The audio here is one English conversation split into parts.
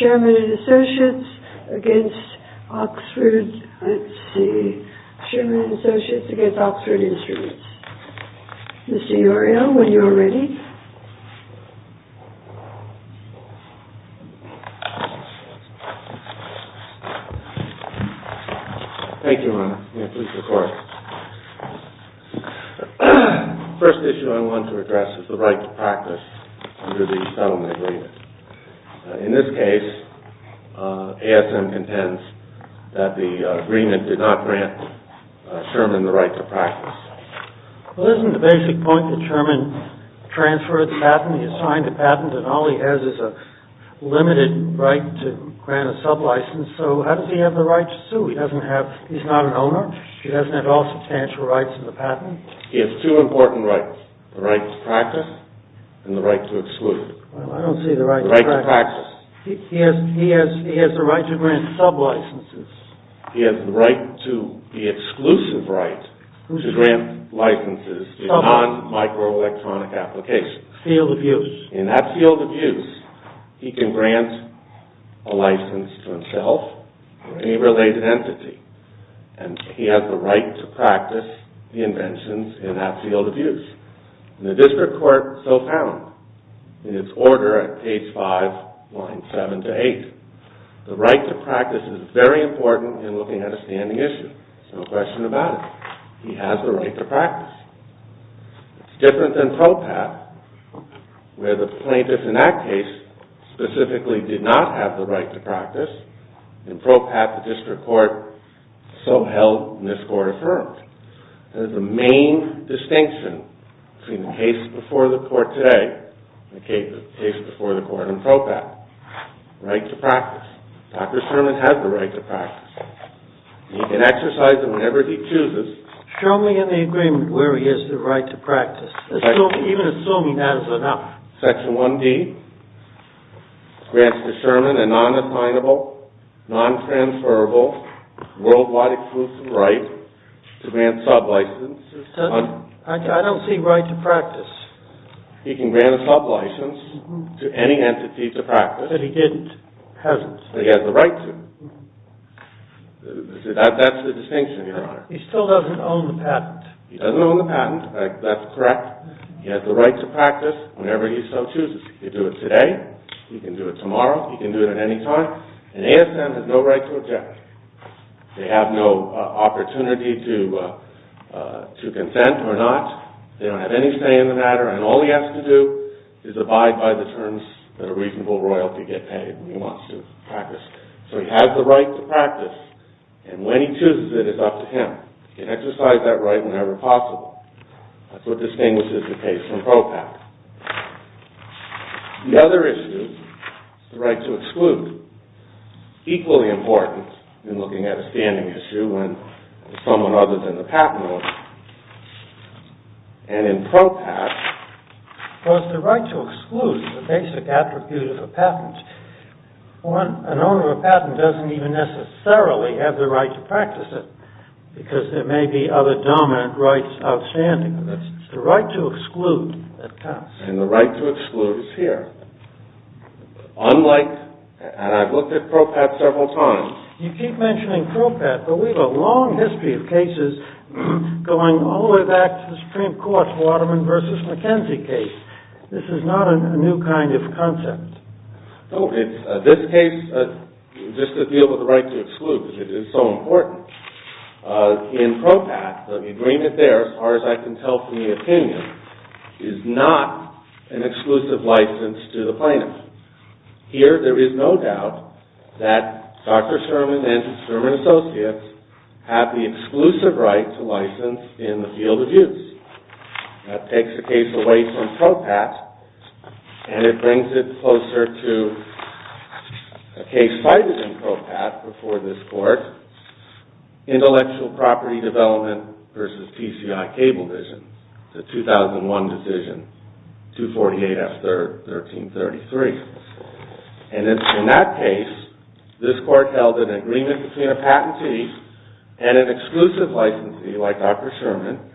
OXFORD STREET OXFORD STREET 12-12-18 SHERMAN & ASSOCIATES against Oxford Instruments SHERMAN & ASSOCIATES against Oxford Instruments Mr. Uriel, when you are ready. Thank you, Your Honor. May I please record? The first issue I want to address is the right to practice under the settlement agreement. In this case, ASM contends that the agreement did not grant Sherman the right to practice. Well isn't the basic point that Sherman transferred the patent, he signed the patent and all he has is a limited right to grant a sub-license so how does he have the right to sue? He doesn't have, he's not an owner, he doesn't have all substantial rights in the patent. He has two important rights. The right to practice and the right to exclude. He has the right to grant sub-licenses. He has the exclusive right to grant licenses in non-micro-electronic applications. Field of use. In that field of use, he can grant a license to himself or any related entity and he has the right to practice the inventions in that field of use. The district court so found in its order at page 5, line 7 to 8 the right to practice is very important in looking at a standing issue. There's no question about it. He has the right to practice. It's different than PROPAT where the plaintiff in that case specifically did not have the right to practice and PROPAT, the district court, so held in this court affirmed. There's a main distinction between the case before the court today and the case before the court in PROPAT. Right to practice. Dr. Sherman has the right to practice. He can exercise it whenever he chooses. Show me in the agreement where he has the right to practice, even assuming that is enough. Section 1D grants to Sherman a non-assignable, non-transferable worldwide exclusive right to grant sub-licenses I don't see right to practice. He can grant a sub-license to any entity to practice. But he didn't. He hasn't. But he has the right to. That's the distinction, Your Honor. He still doesn't own the patent. He doesn't own the patent. That's correct. He has the right to practice whenever he so chooses. He can do it today. He can do it tomorrow. He can do it at any time. And ASM has no right to object. They have no opportunity to consent or not. They don't have any say in the matter. And all he has to do is abide by the terms that a reasonable royalty get paid when he wants to practice. So he has the right to practice. And when he chooses it, it's up to him. He can exercise that right whenever possible. That's what distinguishes the case from PROPAT. The other issue is the right to exclude. Equally important in looking at a standing issue when someone other than the patent owner. And in PROPAT the right to exclude is a basic attribute of a patent. An owner of a patent doesn't even necessarily have the right to practice it because there may be other dominant rights outstanding. It's the right to exclude that counts. And the right to exclude, unlike, and I've looked at PROPAT several times. You keep mentioning PROPAT, but we have a long history of cases going all the way back to the Supreme Court's Waterman v. McKenzie case. This is not a new kind of concept. This case, just to deal with the right to exclude, because it is so important. In PROPAT, the agreement there, as far as I can tell from the opinion, is not an exclusive case. Here, there is no doubt that Dr. Sherman and Sherman Associates have the exclusive right to license in the field of use. That takes the case away from PROPAT and it brings it closer to a case cited in PROPAT before this Court, Intellectual Property Development v. PCI Cable Vision, the 2001 decision, 248 F. 3rd, 1333. And in that case, this Court held an agreement between a patentee and an exclusive licensee, like Dr. Sherman,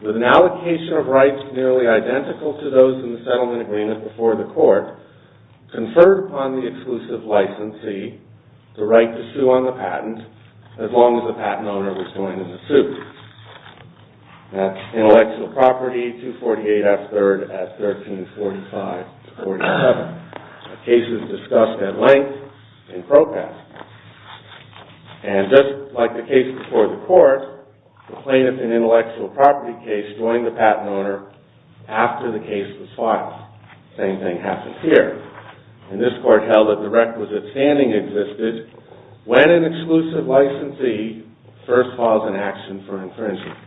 with an allocation of rights nearly identical to those in the settlement agreement before the Court, conferred upon the exclusive licensee the right to sue on the patent as long as the patent owner was doing the suit. That's Intellectual Property 248 F. 3rd at 1345-47, cases discussed at length in PROPAT. And just like the case before the Court, the plaintiff in Intellectual Property case joined the patent owner after the case was filed. Same thing happens here. And this Court held that the requisite standing existed when an exclusive licensee first files an action for infringement.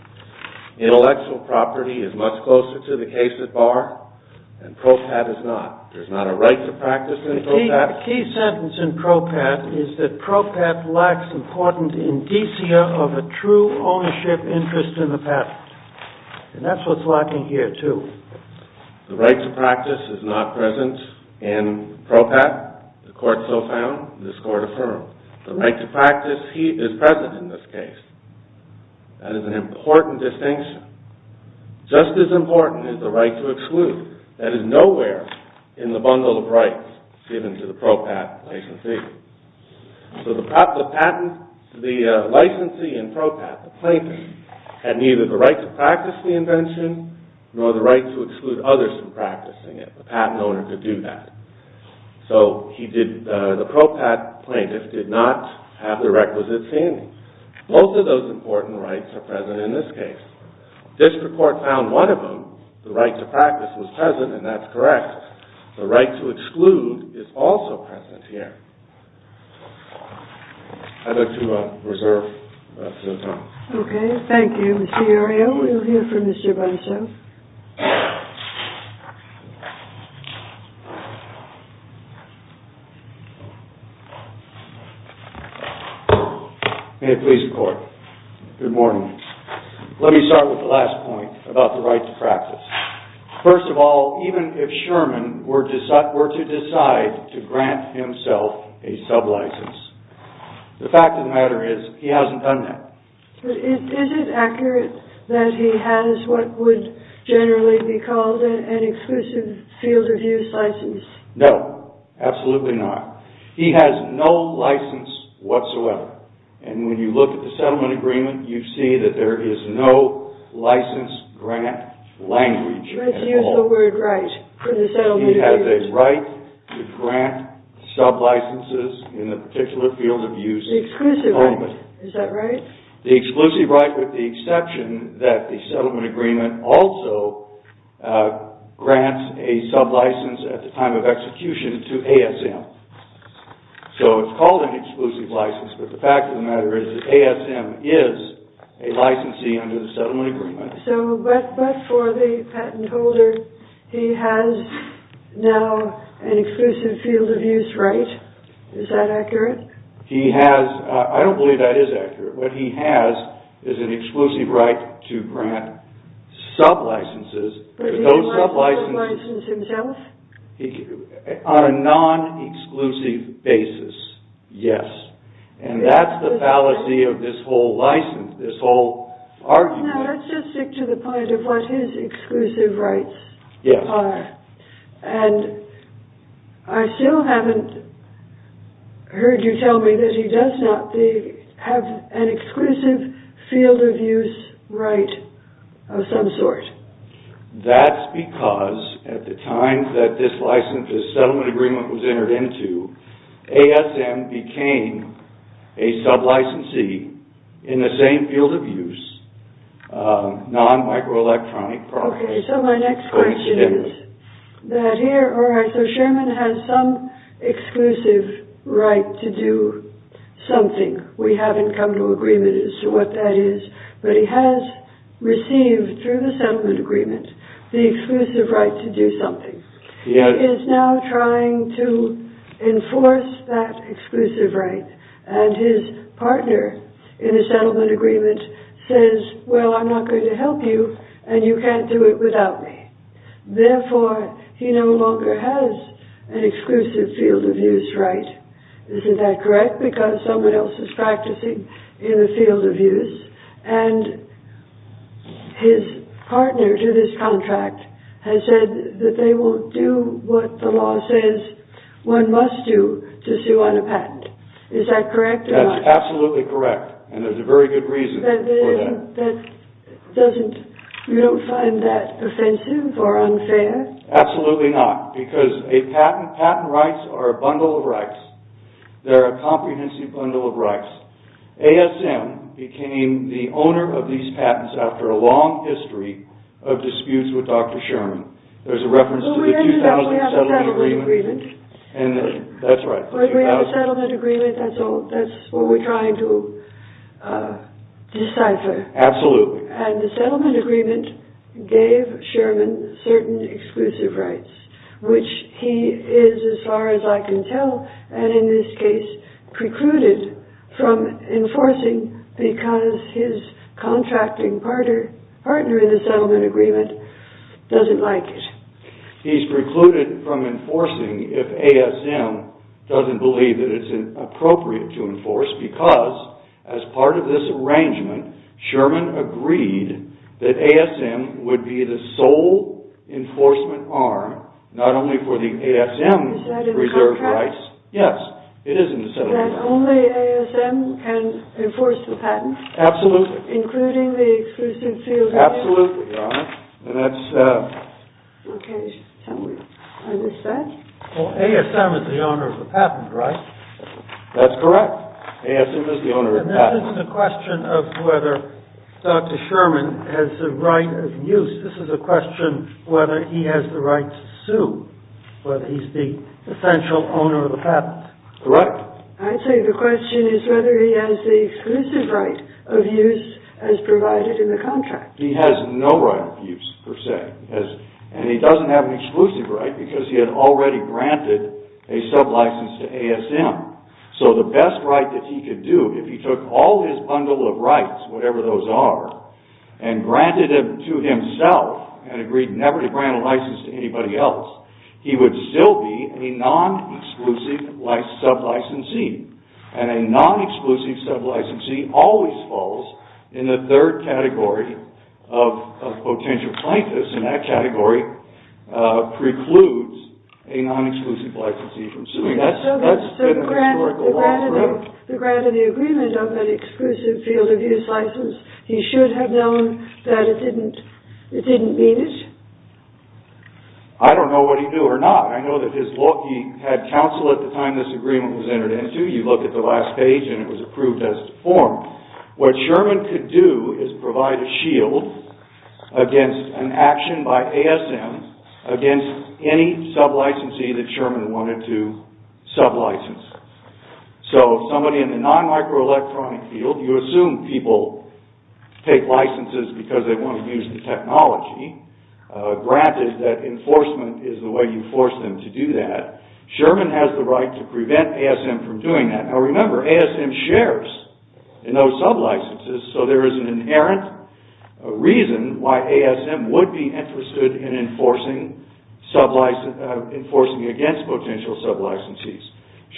Intellectual Property is much closer to the case at bar, and PROPAT is not. There's not a right to practice in PROPAT. The key sentence in PROPAT is that PROPAT lacks important indicia of a true ownership interest in the patent. And that's what's lacking here, too. The right to practice is not present in PROPAT, the Court so found. This Court affirmed. The right to practice is present in this case. That is an important distinction. Just as important is the right to exclude. That is nowhere in the bundle of rights given to the PROPAT licensee. So the patent, the licensee in PROPAT, the plaintiff, had neither the right to practice the invention nor the right to exclude others from practicing it. The patent owner could do that. So the PROPAT plaintiff did not have the requisite standing. Both of those important rights are present in this case. This Court found one of them. The right to practice was present, and that's correct. The right to exclude is also present here. I'd like to reserve some time. Okay. Thank you, Mr. Uriel. We'll hear from Mr. Buncho. May it please the Court. Good morning. Let me start with the last point about the right to practice. First of all, even if Sherman were to decide to grant himself a sub-license, the fact of the matter is he hasn't done that. Is it accurate that he has what would generally be called an exclusive field of use license? No. Absolutely not. He has no license whatsoever. And when you look at the settlement agreement, you see that there is no license grant language at all. Let's use the word right for the settlement agreement. He has a right to grant sub-licenses in a particular field of use at the moment. The exclusive right. Is that right? The exclusive right with the exception that the settlement agreement also grants a sub-license at the time of execution to ASM. So it's called an exclusive license, but the fact of the matter is that ASM is a licensee under the settlement agreement. So, but for the patent holder, he has now an exclusive field of use right? Is that accurate? He has... I don't believe that is accurate. What he has is an exclusive right to grant sub-licenses. Does he have a license himself? On a non-exclusive basis, yes. And that's the fallacy of this whole license, this whole argument. Let's just stick to the point of what his exclusive rights are. And I still haven't heard you tell me that he does not have an exclusive field of use right of some sort. That's because at the time that this settlement agreement was entered into, ASM became a sub-licensee in the same field of use, non-microelectronic... Okay, so my next question is that here, alright, so Sherman has some exclusive right to do something. We haven't come to agreement as to what that is, but he has received through the settlement agreement the exclusive right to do something. He is now trying to enforce that exclusive right, and his partner in the settlement agreement says, well I'm not going to help you, and you can't do it without me. Therefore, he no longer has an exclusive field of use right. Is that correct? Because someone else is practicing in the field of use, and his partner to this contract has said that they will do what the law says one must do to sue on a patent. Is that correct? That's absolutely correct, and there's a very good reason for that. You don't find that offensive or unfair? Absolutely not, because patent rights are a bundle of rights. They're a comprehensive bundle of rights. ASM became the owner of these patents after a long history of disputes with Dr. Sherman. There's a reference to the 2000 settlement agreement. We have a settlement agreement. That's what we're trying to decipher. Absolutely. And the settlement agreement gave Sherman certain exclusive rights, which he is as far as I can tell, and in this case, precluded from enforcing because his contracting partner in the settlement agreement doesn't like it. He's precluded from enforcing if ASM doesn't believe that it's appropriate to enforce because as part of this arrangement, Sherman agreed that ASM would be the sole enforcement arm not only for the ASM's reserve rights. Is that in the contract? Yes. It is in the settlement agreement. That only ASM can enforce the patent? Absolutely. Including the exclusive COW? Absolutely, Your Honor. ASM is the owner of the patent, right? That's correct. ASM is the owner of the patent. This isn't a question of whether Dr. Sherman has the right of use. This is a question whether he has the right to sue, whether he's the potential owner of the patent. Correct. I'd say the question is whether he has the exclusive right of use as provided in the contract. He has no right of use, per se. And he doesn't have an exclusive right because he had already granted a sub-license to ASM. So the best right that he could do, if he took all his bundle of rights, whatever those are, and granted them to himself and agreed never to grant a license to anybody else, he would still be a non-exclusive sub-licensee. And a non-exclusive sub-licensee always falls in the third category of potential plaintiffs, and that category precludes a non-exclusive licensee from suing. That's been the historical law forever. So granted the agreement of that exclusive field of use license, he should have known that it didn't mean it? I don't know what he'd do or not. I know that he had counsel at the time this agreement was entered into. You look at the last page and it was approved as a form. What Sherman could do is provide a shield against an action by ASM against any sub-licensee that Sherman wanted to sub-license. So somebody in the non-microelectronics field, you assume people take licenses because they want to use the technology. Granted that enforcement is the way you force them to do that. Sherman has the right to prevent ASM from doing that. Now remember, ASM shares in those sub-licenses, so there is an inherent reason why ASM would be interested in enforcing against potential sub-licensees.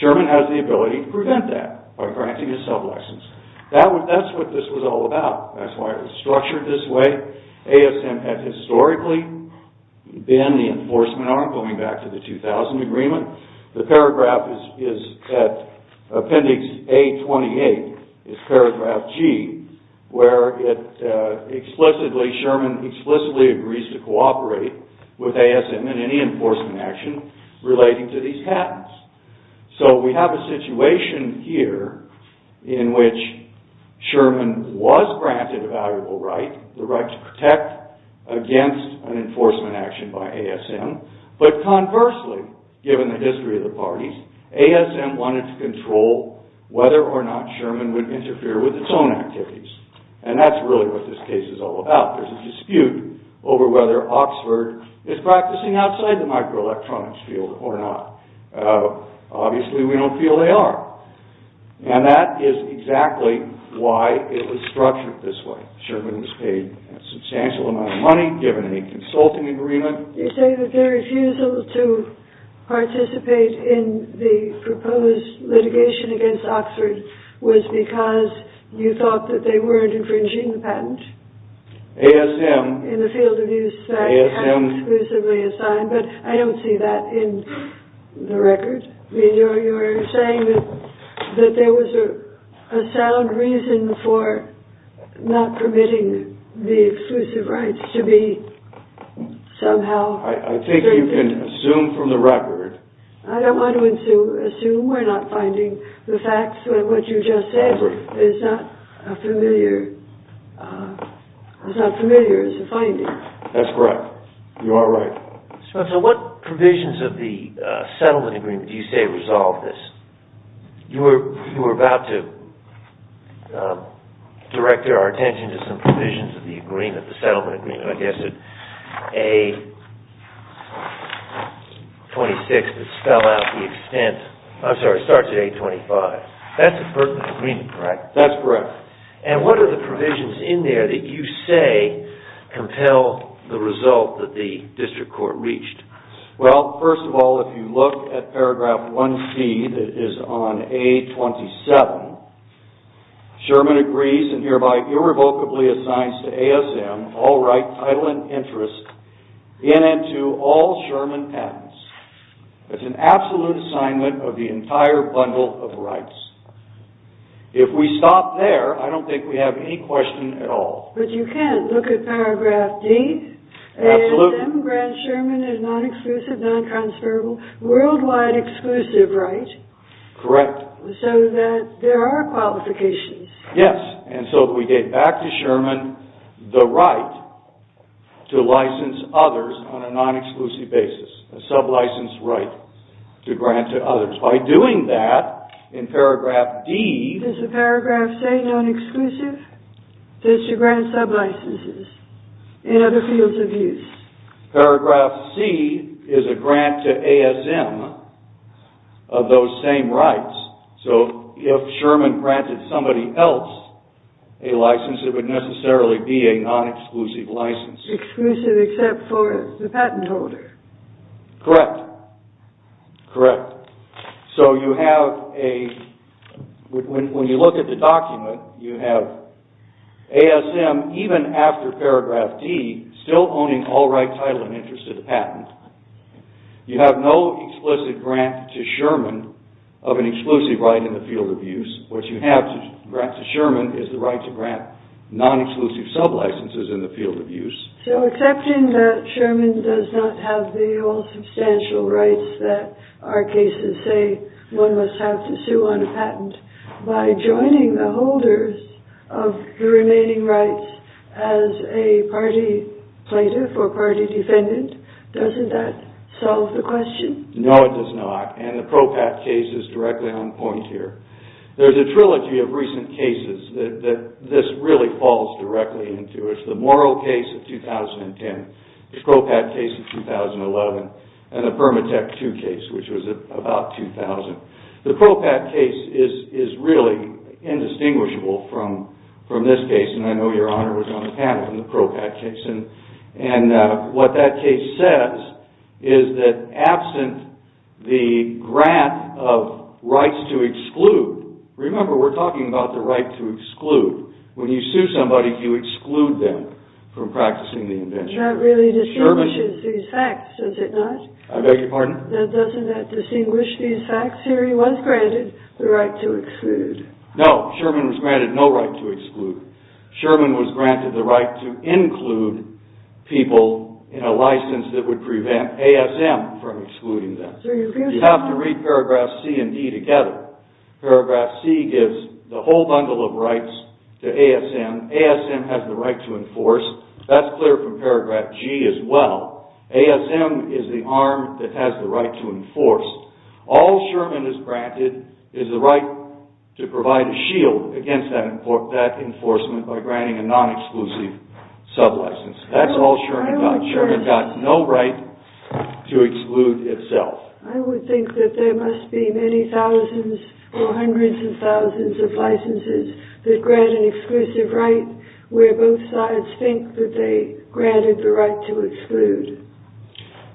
Sherman has the ability to prevent that by granting a sub-license. That's what this was all about. That's why it was structured this way. ASM has historically been the enforcement arm, going back to the 2000 agreement. The paragraph is at appendix A28, is paragraph G, where it explicitly, Sherman explicitly agrees to cooperate with ASM in any enforcement action relating to these patents. So we have a situation here in which Sherman was granted a valuable right, the right to protect against an enforcement action by ASM, but conversely, given the history of the parties, ASM wanted to control whether or not Sherman would interfere with its own activities. And that's really what this case is all about. There's a dispute over whether Oxford is practicing outside the microelectronics field or not. Obviously we don't feel they are. And that is exactly why it was structured this way. Sherman was paid a substantial amount of money, given a consulting agreement. You say that their refusal to participate in the proposed litigation against Oxford was because you thought that they weren't infringing the patent. ASM. In the field of use that it had exclusively assigned, but I don't see that in the record. You're saying that there was a sound reason for not permitting the exclusive rights to be somehow... I think you can assume from the record... I don't want to assume. We're not finding the facts of what you just said is not familiar as a finding. That's correct. You are right. So what provisions of the settlement agreement do you say resolve this? You were about to direct our attention to some provisions of the settlement agreement. I guess it's A26 that starts at A25. That's a pertinent agreement, correct? That's correct. And what are the provisions in there that you say compel the result that the district court reached? Well, first of all, if you look at paragraph 1c that is on A27, Sherman agrees and hereby irrevocably assigns to ASM all rights, title, and interests in and to all Sherman patents. That's an absolute assignment of the entire bundle of rights. If we stop there, I don't think we have any question at all. But you can look at paragraph D. ASM grants Sherman a non-exclusive, non-transferable, worldwide exclusive right so that there are qualifications. Yes, and so if we gave back to Sherman the right to license others on a non-exclusive basis, a sub-licensed right to grant to others. By doing that, in paragraph D, Does the paragraph say non-exclusive? It says to grant sub-licenses in other fields of use. Paragraph C is a grant to ASM of those same rights. So if Sherman granted somebody else a license, it would necessarily be a non-exclusive license. Exclusive except for the patent holder. Correct. Correct. So you have a when you look at the document, you have ASM, even after paragraph D, still owning all right, title, and interest to the patent. You have no explicit grant to Sherman of an exclusive right in the field of use. What you have to grant to Sherman is the right to grant non-exclusive sub-licenses in the field of use. So accepting that Sherman does not have the all substantial rights that our cases say one must have to sue on a patent by joining the holders of the remaining rights as a party plaintiff or party defendant, doesn't that solve the question? No, it does not. And the PROPAT case is directly on point here. There's a trilogy of recent cases that this really falls directly into. It's the Morrill case of 2010, the PROPAT case of 2011, and the Permatek II case, which was about 2000. The PROPAT case is really indistinguishable from this case, and I know your Honor was on the panel in the PROPAT case. What that case says is that absent the grant of rights to exclude remember we're talking about the right to exclude. When you sue somebody you exclude them from practicing the invention. That really distinguishes these facts, does it not? I beg your pardon? Doesn't that distinguish these facts? Here he was granted the right to exclude. No, Sherman was granted no right to exclude. Sherman was granted the right to include people in a license that would prevent ASM from excluding them. You have to read paragraphs C and D together. Paragraph C gives the whole bundle of rights to ASM. ASM has the right to enforce. That's clear from paragraph G as well. ASM is the arm that has the right to enforce. All Sherman is granted is the right to provide a shield against that enforcement by granting a non-exclusive sub-license. That's all Sherman got. Sherman got no right to exclude itself. I would think that there must be many thousands or hundreds of thousands of licenses that grant an exclusive right where both sides think that they granted the right to exclude.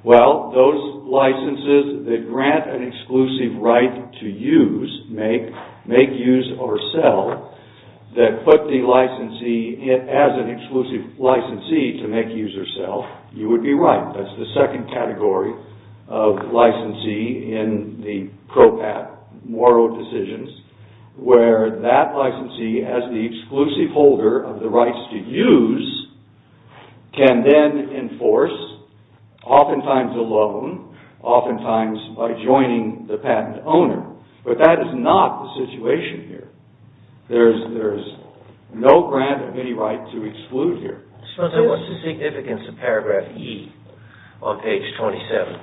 Well, those licenses that grant an exclusive right to use, make, make use, or sell, that put the licensee as an exclusive licensee to make use or sell, you would be right. That's the second category of licensee in the PROPAT Moro decisions, where that licensee as the exclusive holder of the rights to use can then enforce, oftentimes alone, oftentimes by joining the patent owner. But that is not the situation here. There's no grant of any right to exclude here. What's the significance of paragraph E on page 27?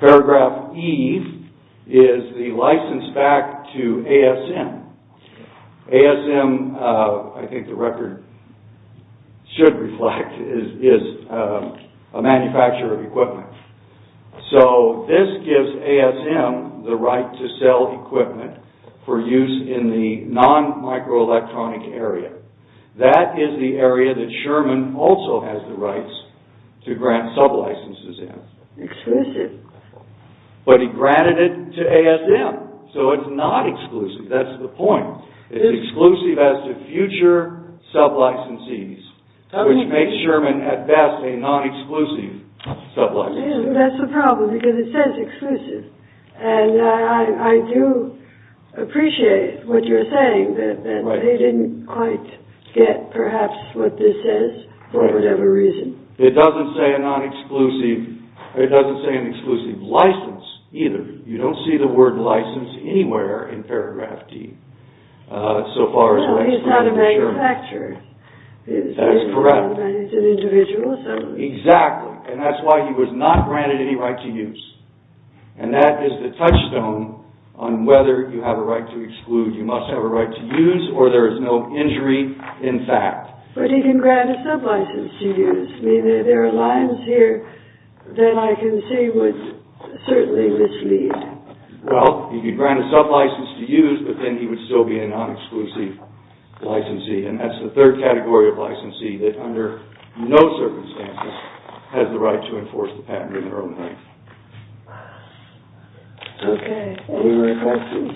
Paragraph E is the ASM. ASM, I think the record should reflect, is a manufacturer of equipment. So, this gives ASM the right to sell equipment for use in the non-microelectronic area. That is the area that Sherman also has the rights to grant sub-licenses in. Exclusive. But he granted it to ASM. So, it's not exclusive. That's the point. It's exclusive as to future sub-licensees, which makes Sherman at best a non-exclusive sub-licensee. That's the problem, because it says exclusive, and I do appreciate what you're saying, that they didn't quite get, perhaps, what this says, for whatever reason. It doesn't say a non-exclusive, it doesn't say an exclusive license either. You don't see the word license anywhere in paragraph E. Well, he's not a manufacturer. That's correct. He's an individual. Exactly. And that's why he was not granted any right to use. And that is the touchstone on whether you have a right to exclude. You must have a right to use, or there is no injury in fact. But he can grant a sub-license to use. There are lines here that I misread. Well, he can grant a sub-license to use, but then he would still be a non-exclusive licensee. And that's the third category of licensee that, under no circumstances, has the right to enforce the patent in their own right. Okay. Any more questions?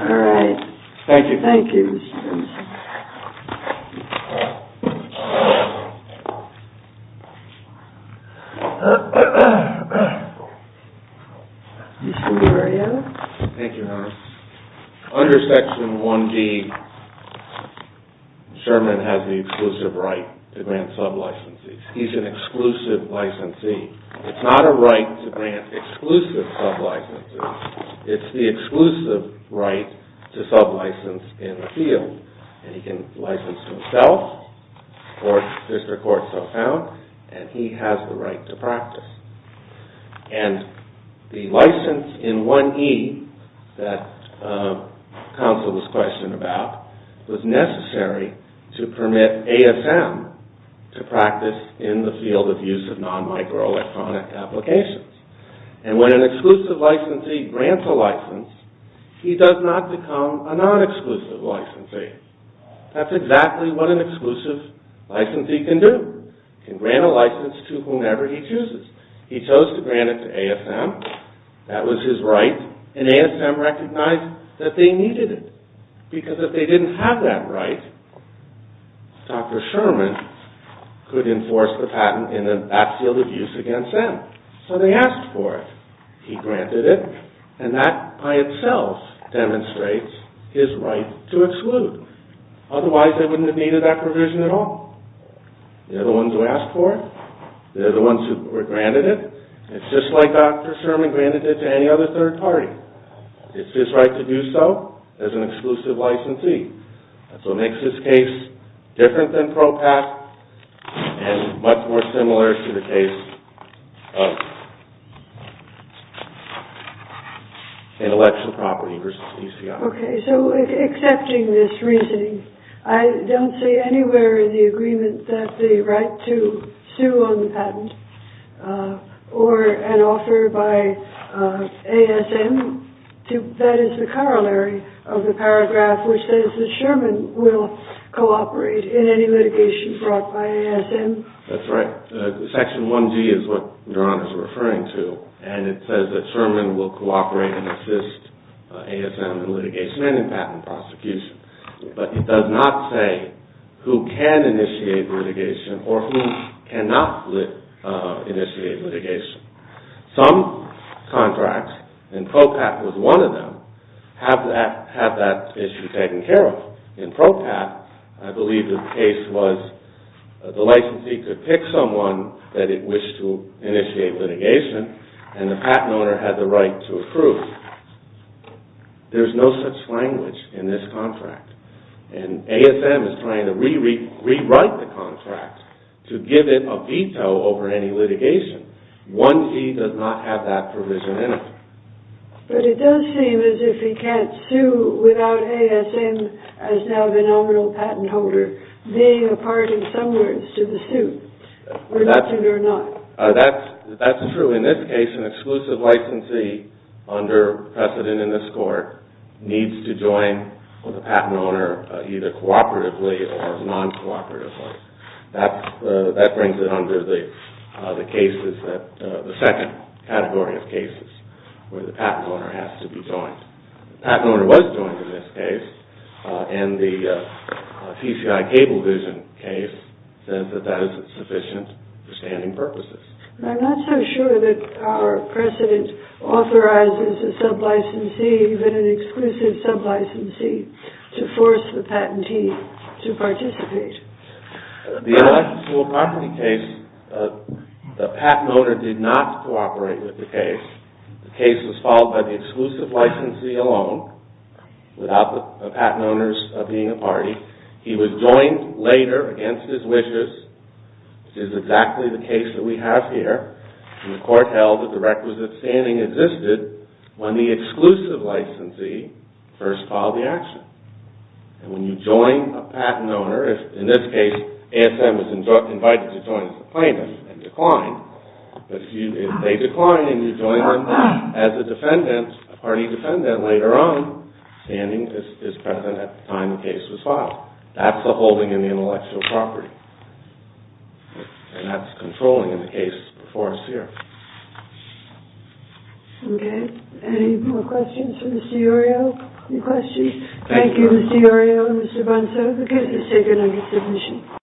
All right. Thank you. Thank you. Under Section 1G, Sherman has the exclusive right to grant sub-licensees. He's an exclusive licensee. It's not a right to grant exclusive sub-licenses. It's the exclusive right to sub-license in the field. And he can license himself, or if there's a court so found, and he has the right to practice. And the license in 1E that counsel was questioning about was necessary to permit ASM to practice in the field of use of non-microelectronic applications. And when an exclusive licensee grants a license, he does not become a non-exclusive licensee. That's exactly what an exclusive licensee can do. He can grant a license to whomever he chooses. He chose to grant it to ASM. That was his right. And ASM recognized that they needed it. Because if they didn't have that right, Dr. Sherman could enforce the patent in that field of use against them. So they asked for it. He granted it. And that by itself demonstrates his right to exclude. Otherwise they wouldn't have needed that provision at all. They're the ones who asked for it. They're the ones who were granted it. It's just like Dr. Sherman granted it to any other third party. It's his right to do so as an exclusive licensee. That's what makes this case different than PROPAT and much more similar to the case of Intellectual Property v. DCI. Okay, so accepting this reasoning, I don't see anywhere in the agreement that there is a right to sue on the patent or an offer by ASM. That is the corollary of the paragraph which says that Sherman will cooperate in any litigation brought by ASM. That's right. Section 1G is what Ron is referring to. And it says that Sherman will cooperate and assist ASM in litigation and in patent prosecution. But it does not say who can initiate litigation or who cannot initiate litigation. Some contracts and PROPAT was one of them, have that issue taken care of. In PROPAT, I believe the case was the licensee could pick someone that it wished to initiate litigation and the patent owner had the right to approve. There's no such language in this contract. And ASM is trying to rewrite the contract to give it a veto over any litigation. 1G does not have that provision in it. But it does seem as if he can't sue without ASM as now the nominal patent holder being a part, in some words, to the suit. Reluctant or not. That's true. In this case, an exclusive licensee under precedent in this court needs to join with a patent owner either cooperatively or non-cooperatively. That brings it under the second category of cases where the patent owner has to be joined. The patent owner was joined in this case and the TCI Cablevision case says that that is sufficient for standing purposes. I'm not so sure that our precedent authorizes a sub-licensee or even an exclusive sub-licensee to force the patentee to participate. The patent owner did not cooperate with the case. The case was followed by the exclusive licensee alone without the patent owners being a party. He was joined later against his wishes, which is exactly the case that we have here. And the court held that the requisite standing existed when the exclusive licensee first filed the action. And when you join a patent owner, in this case ASM is invited to join as a plaintiff and declined, but if they decline and you join them as a defendant, a party defendant later on, standing is present at the time the case was filed. That's the holding in the intellectual property. And that's controlling in the case before us here. Okay. Any more questions for Ms. DiOrio? Any questions? Thank you Ms. DiOrio and Mr. Banzo. The case is taken under submission.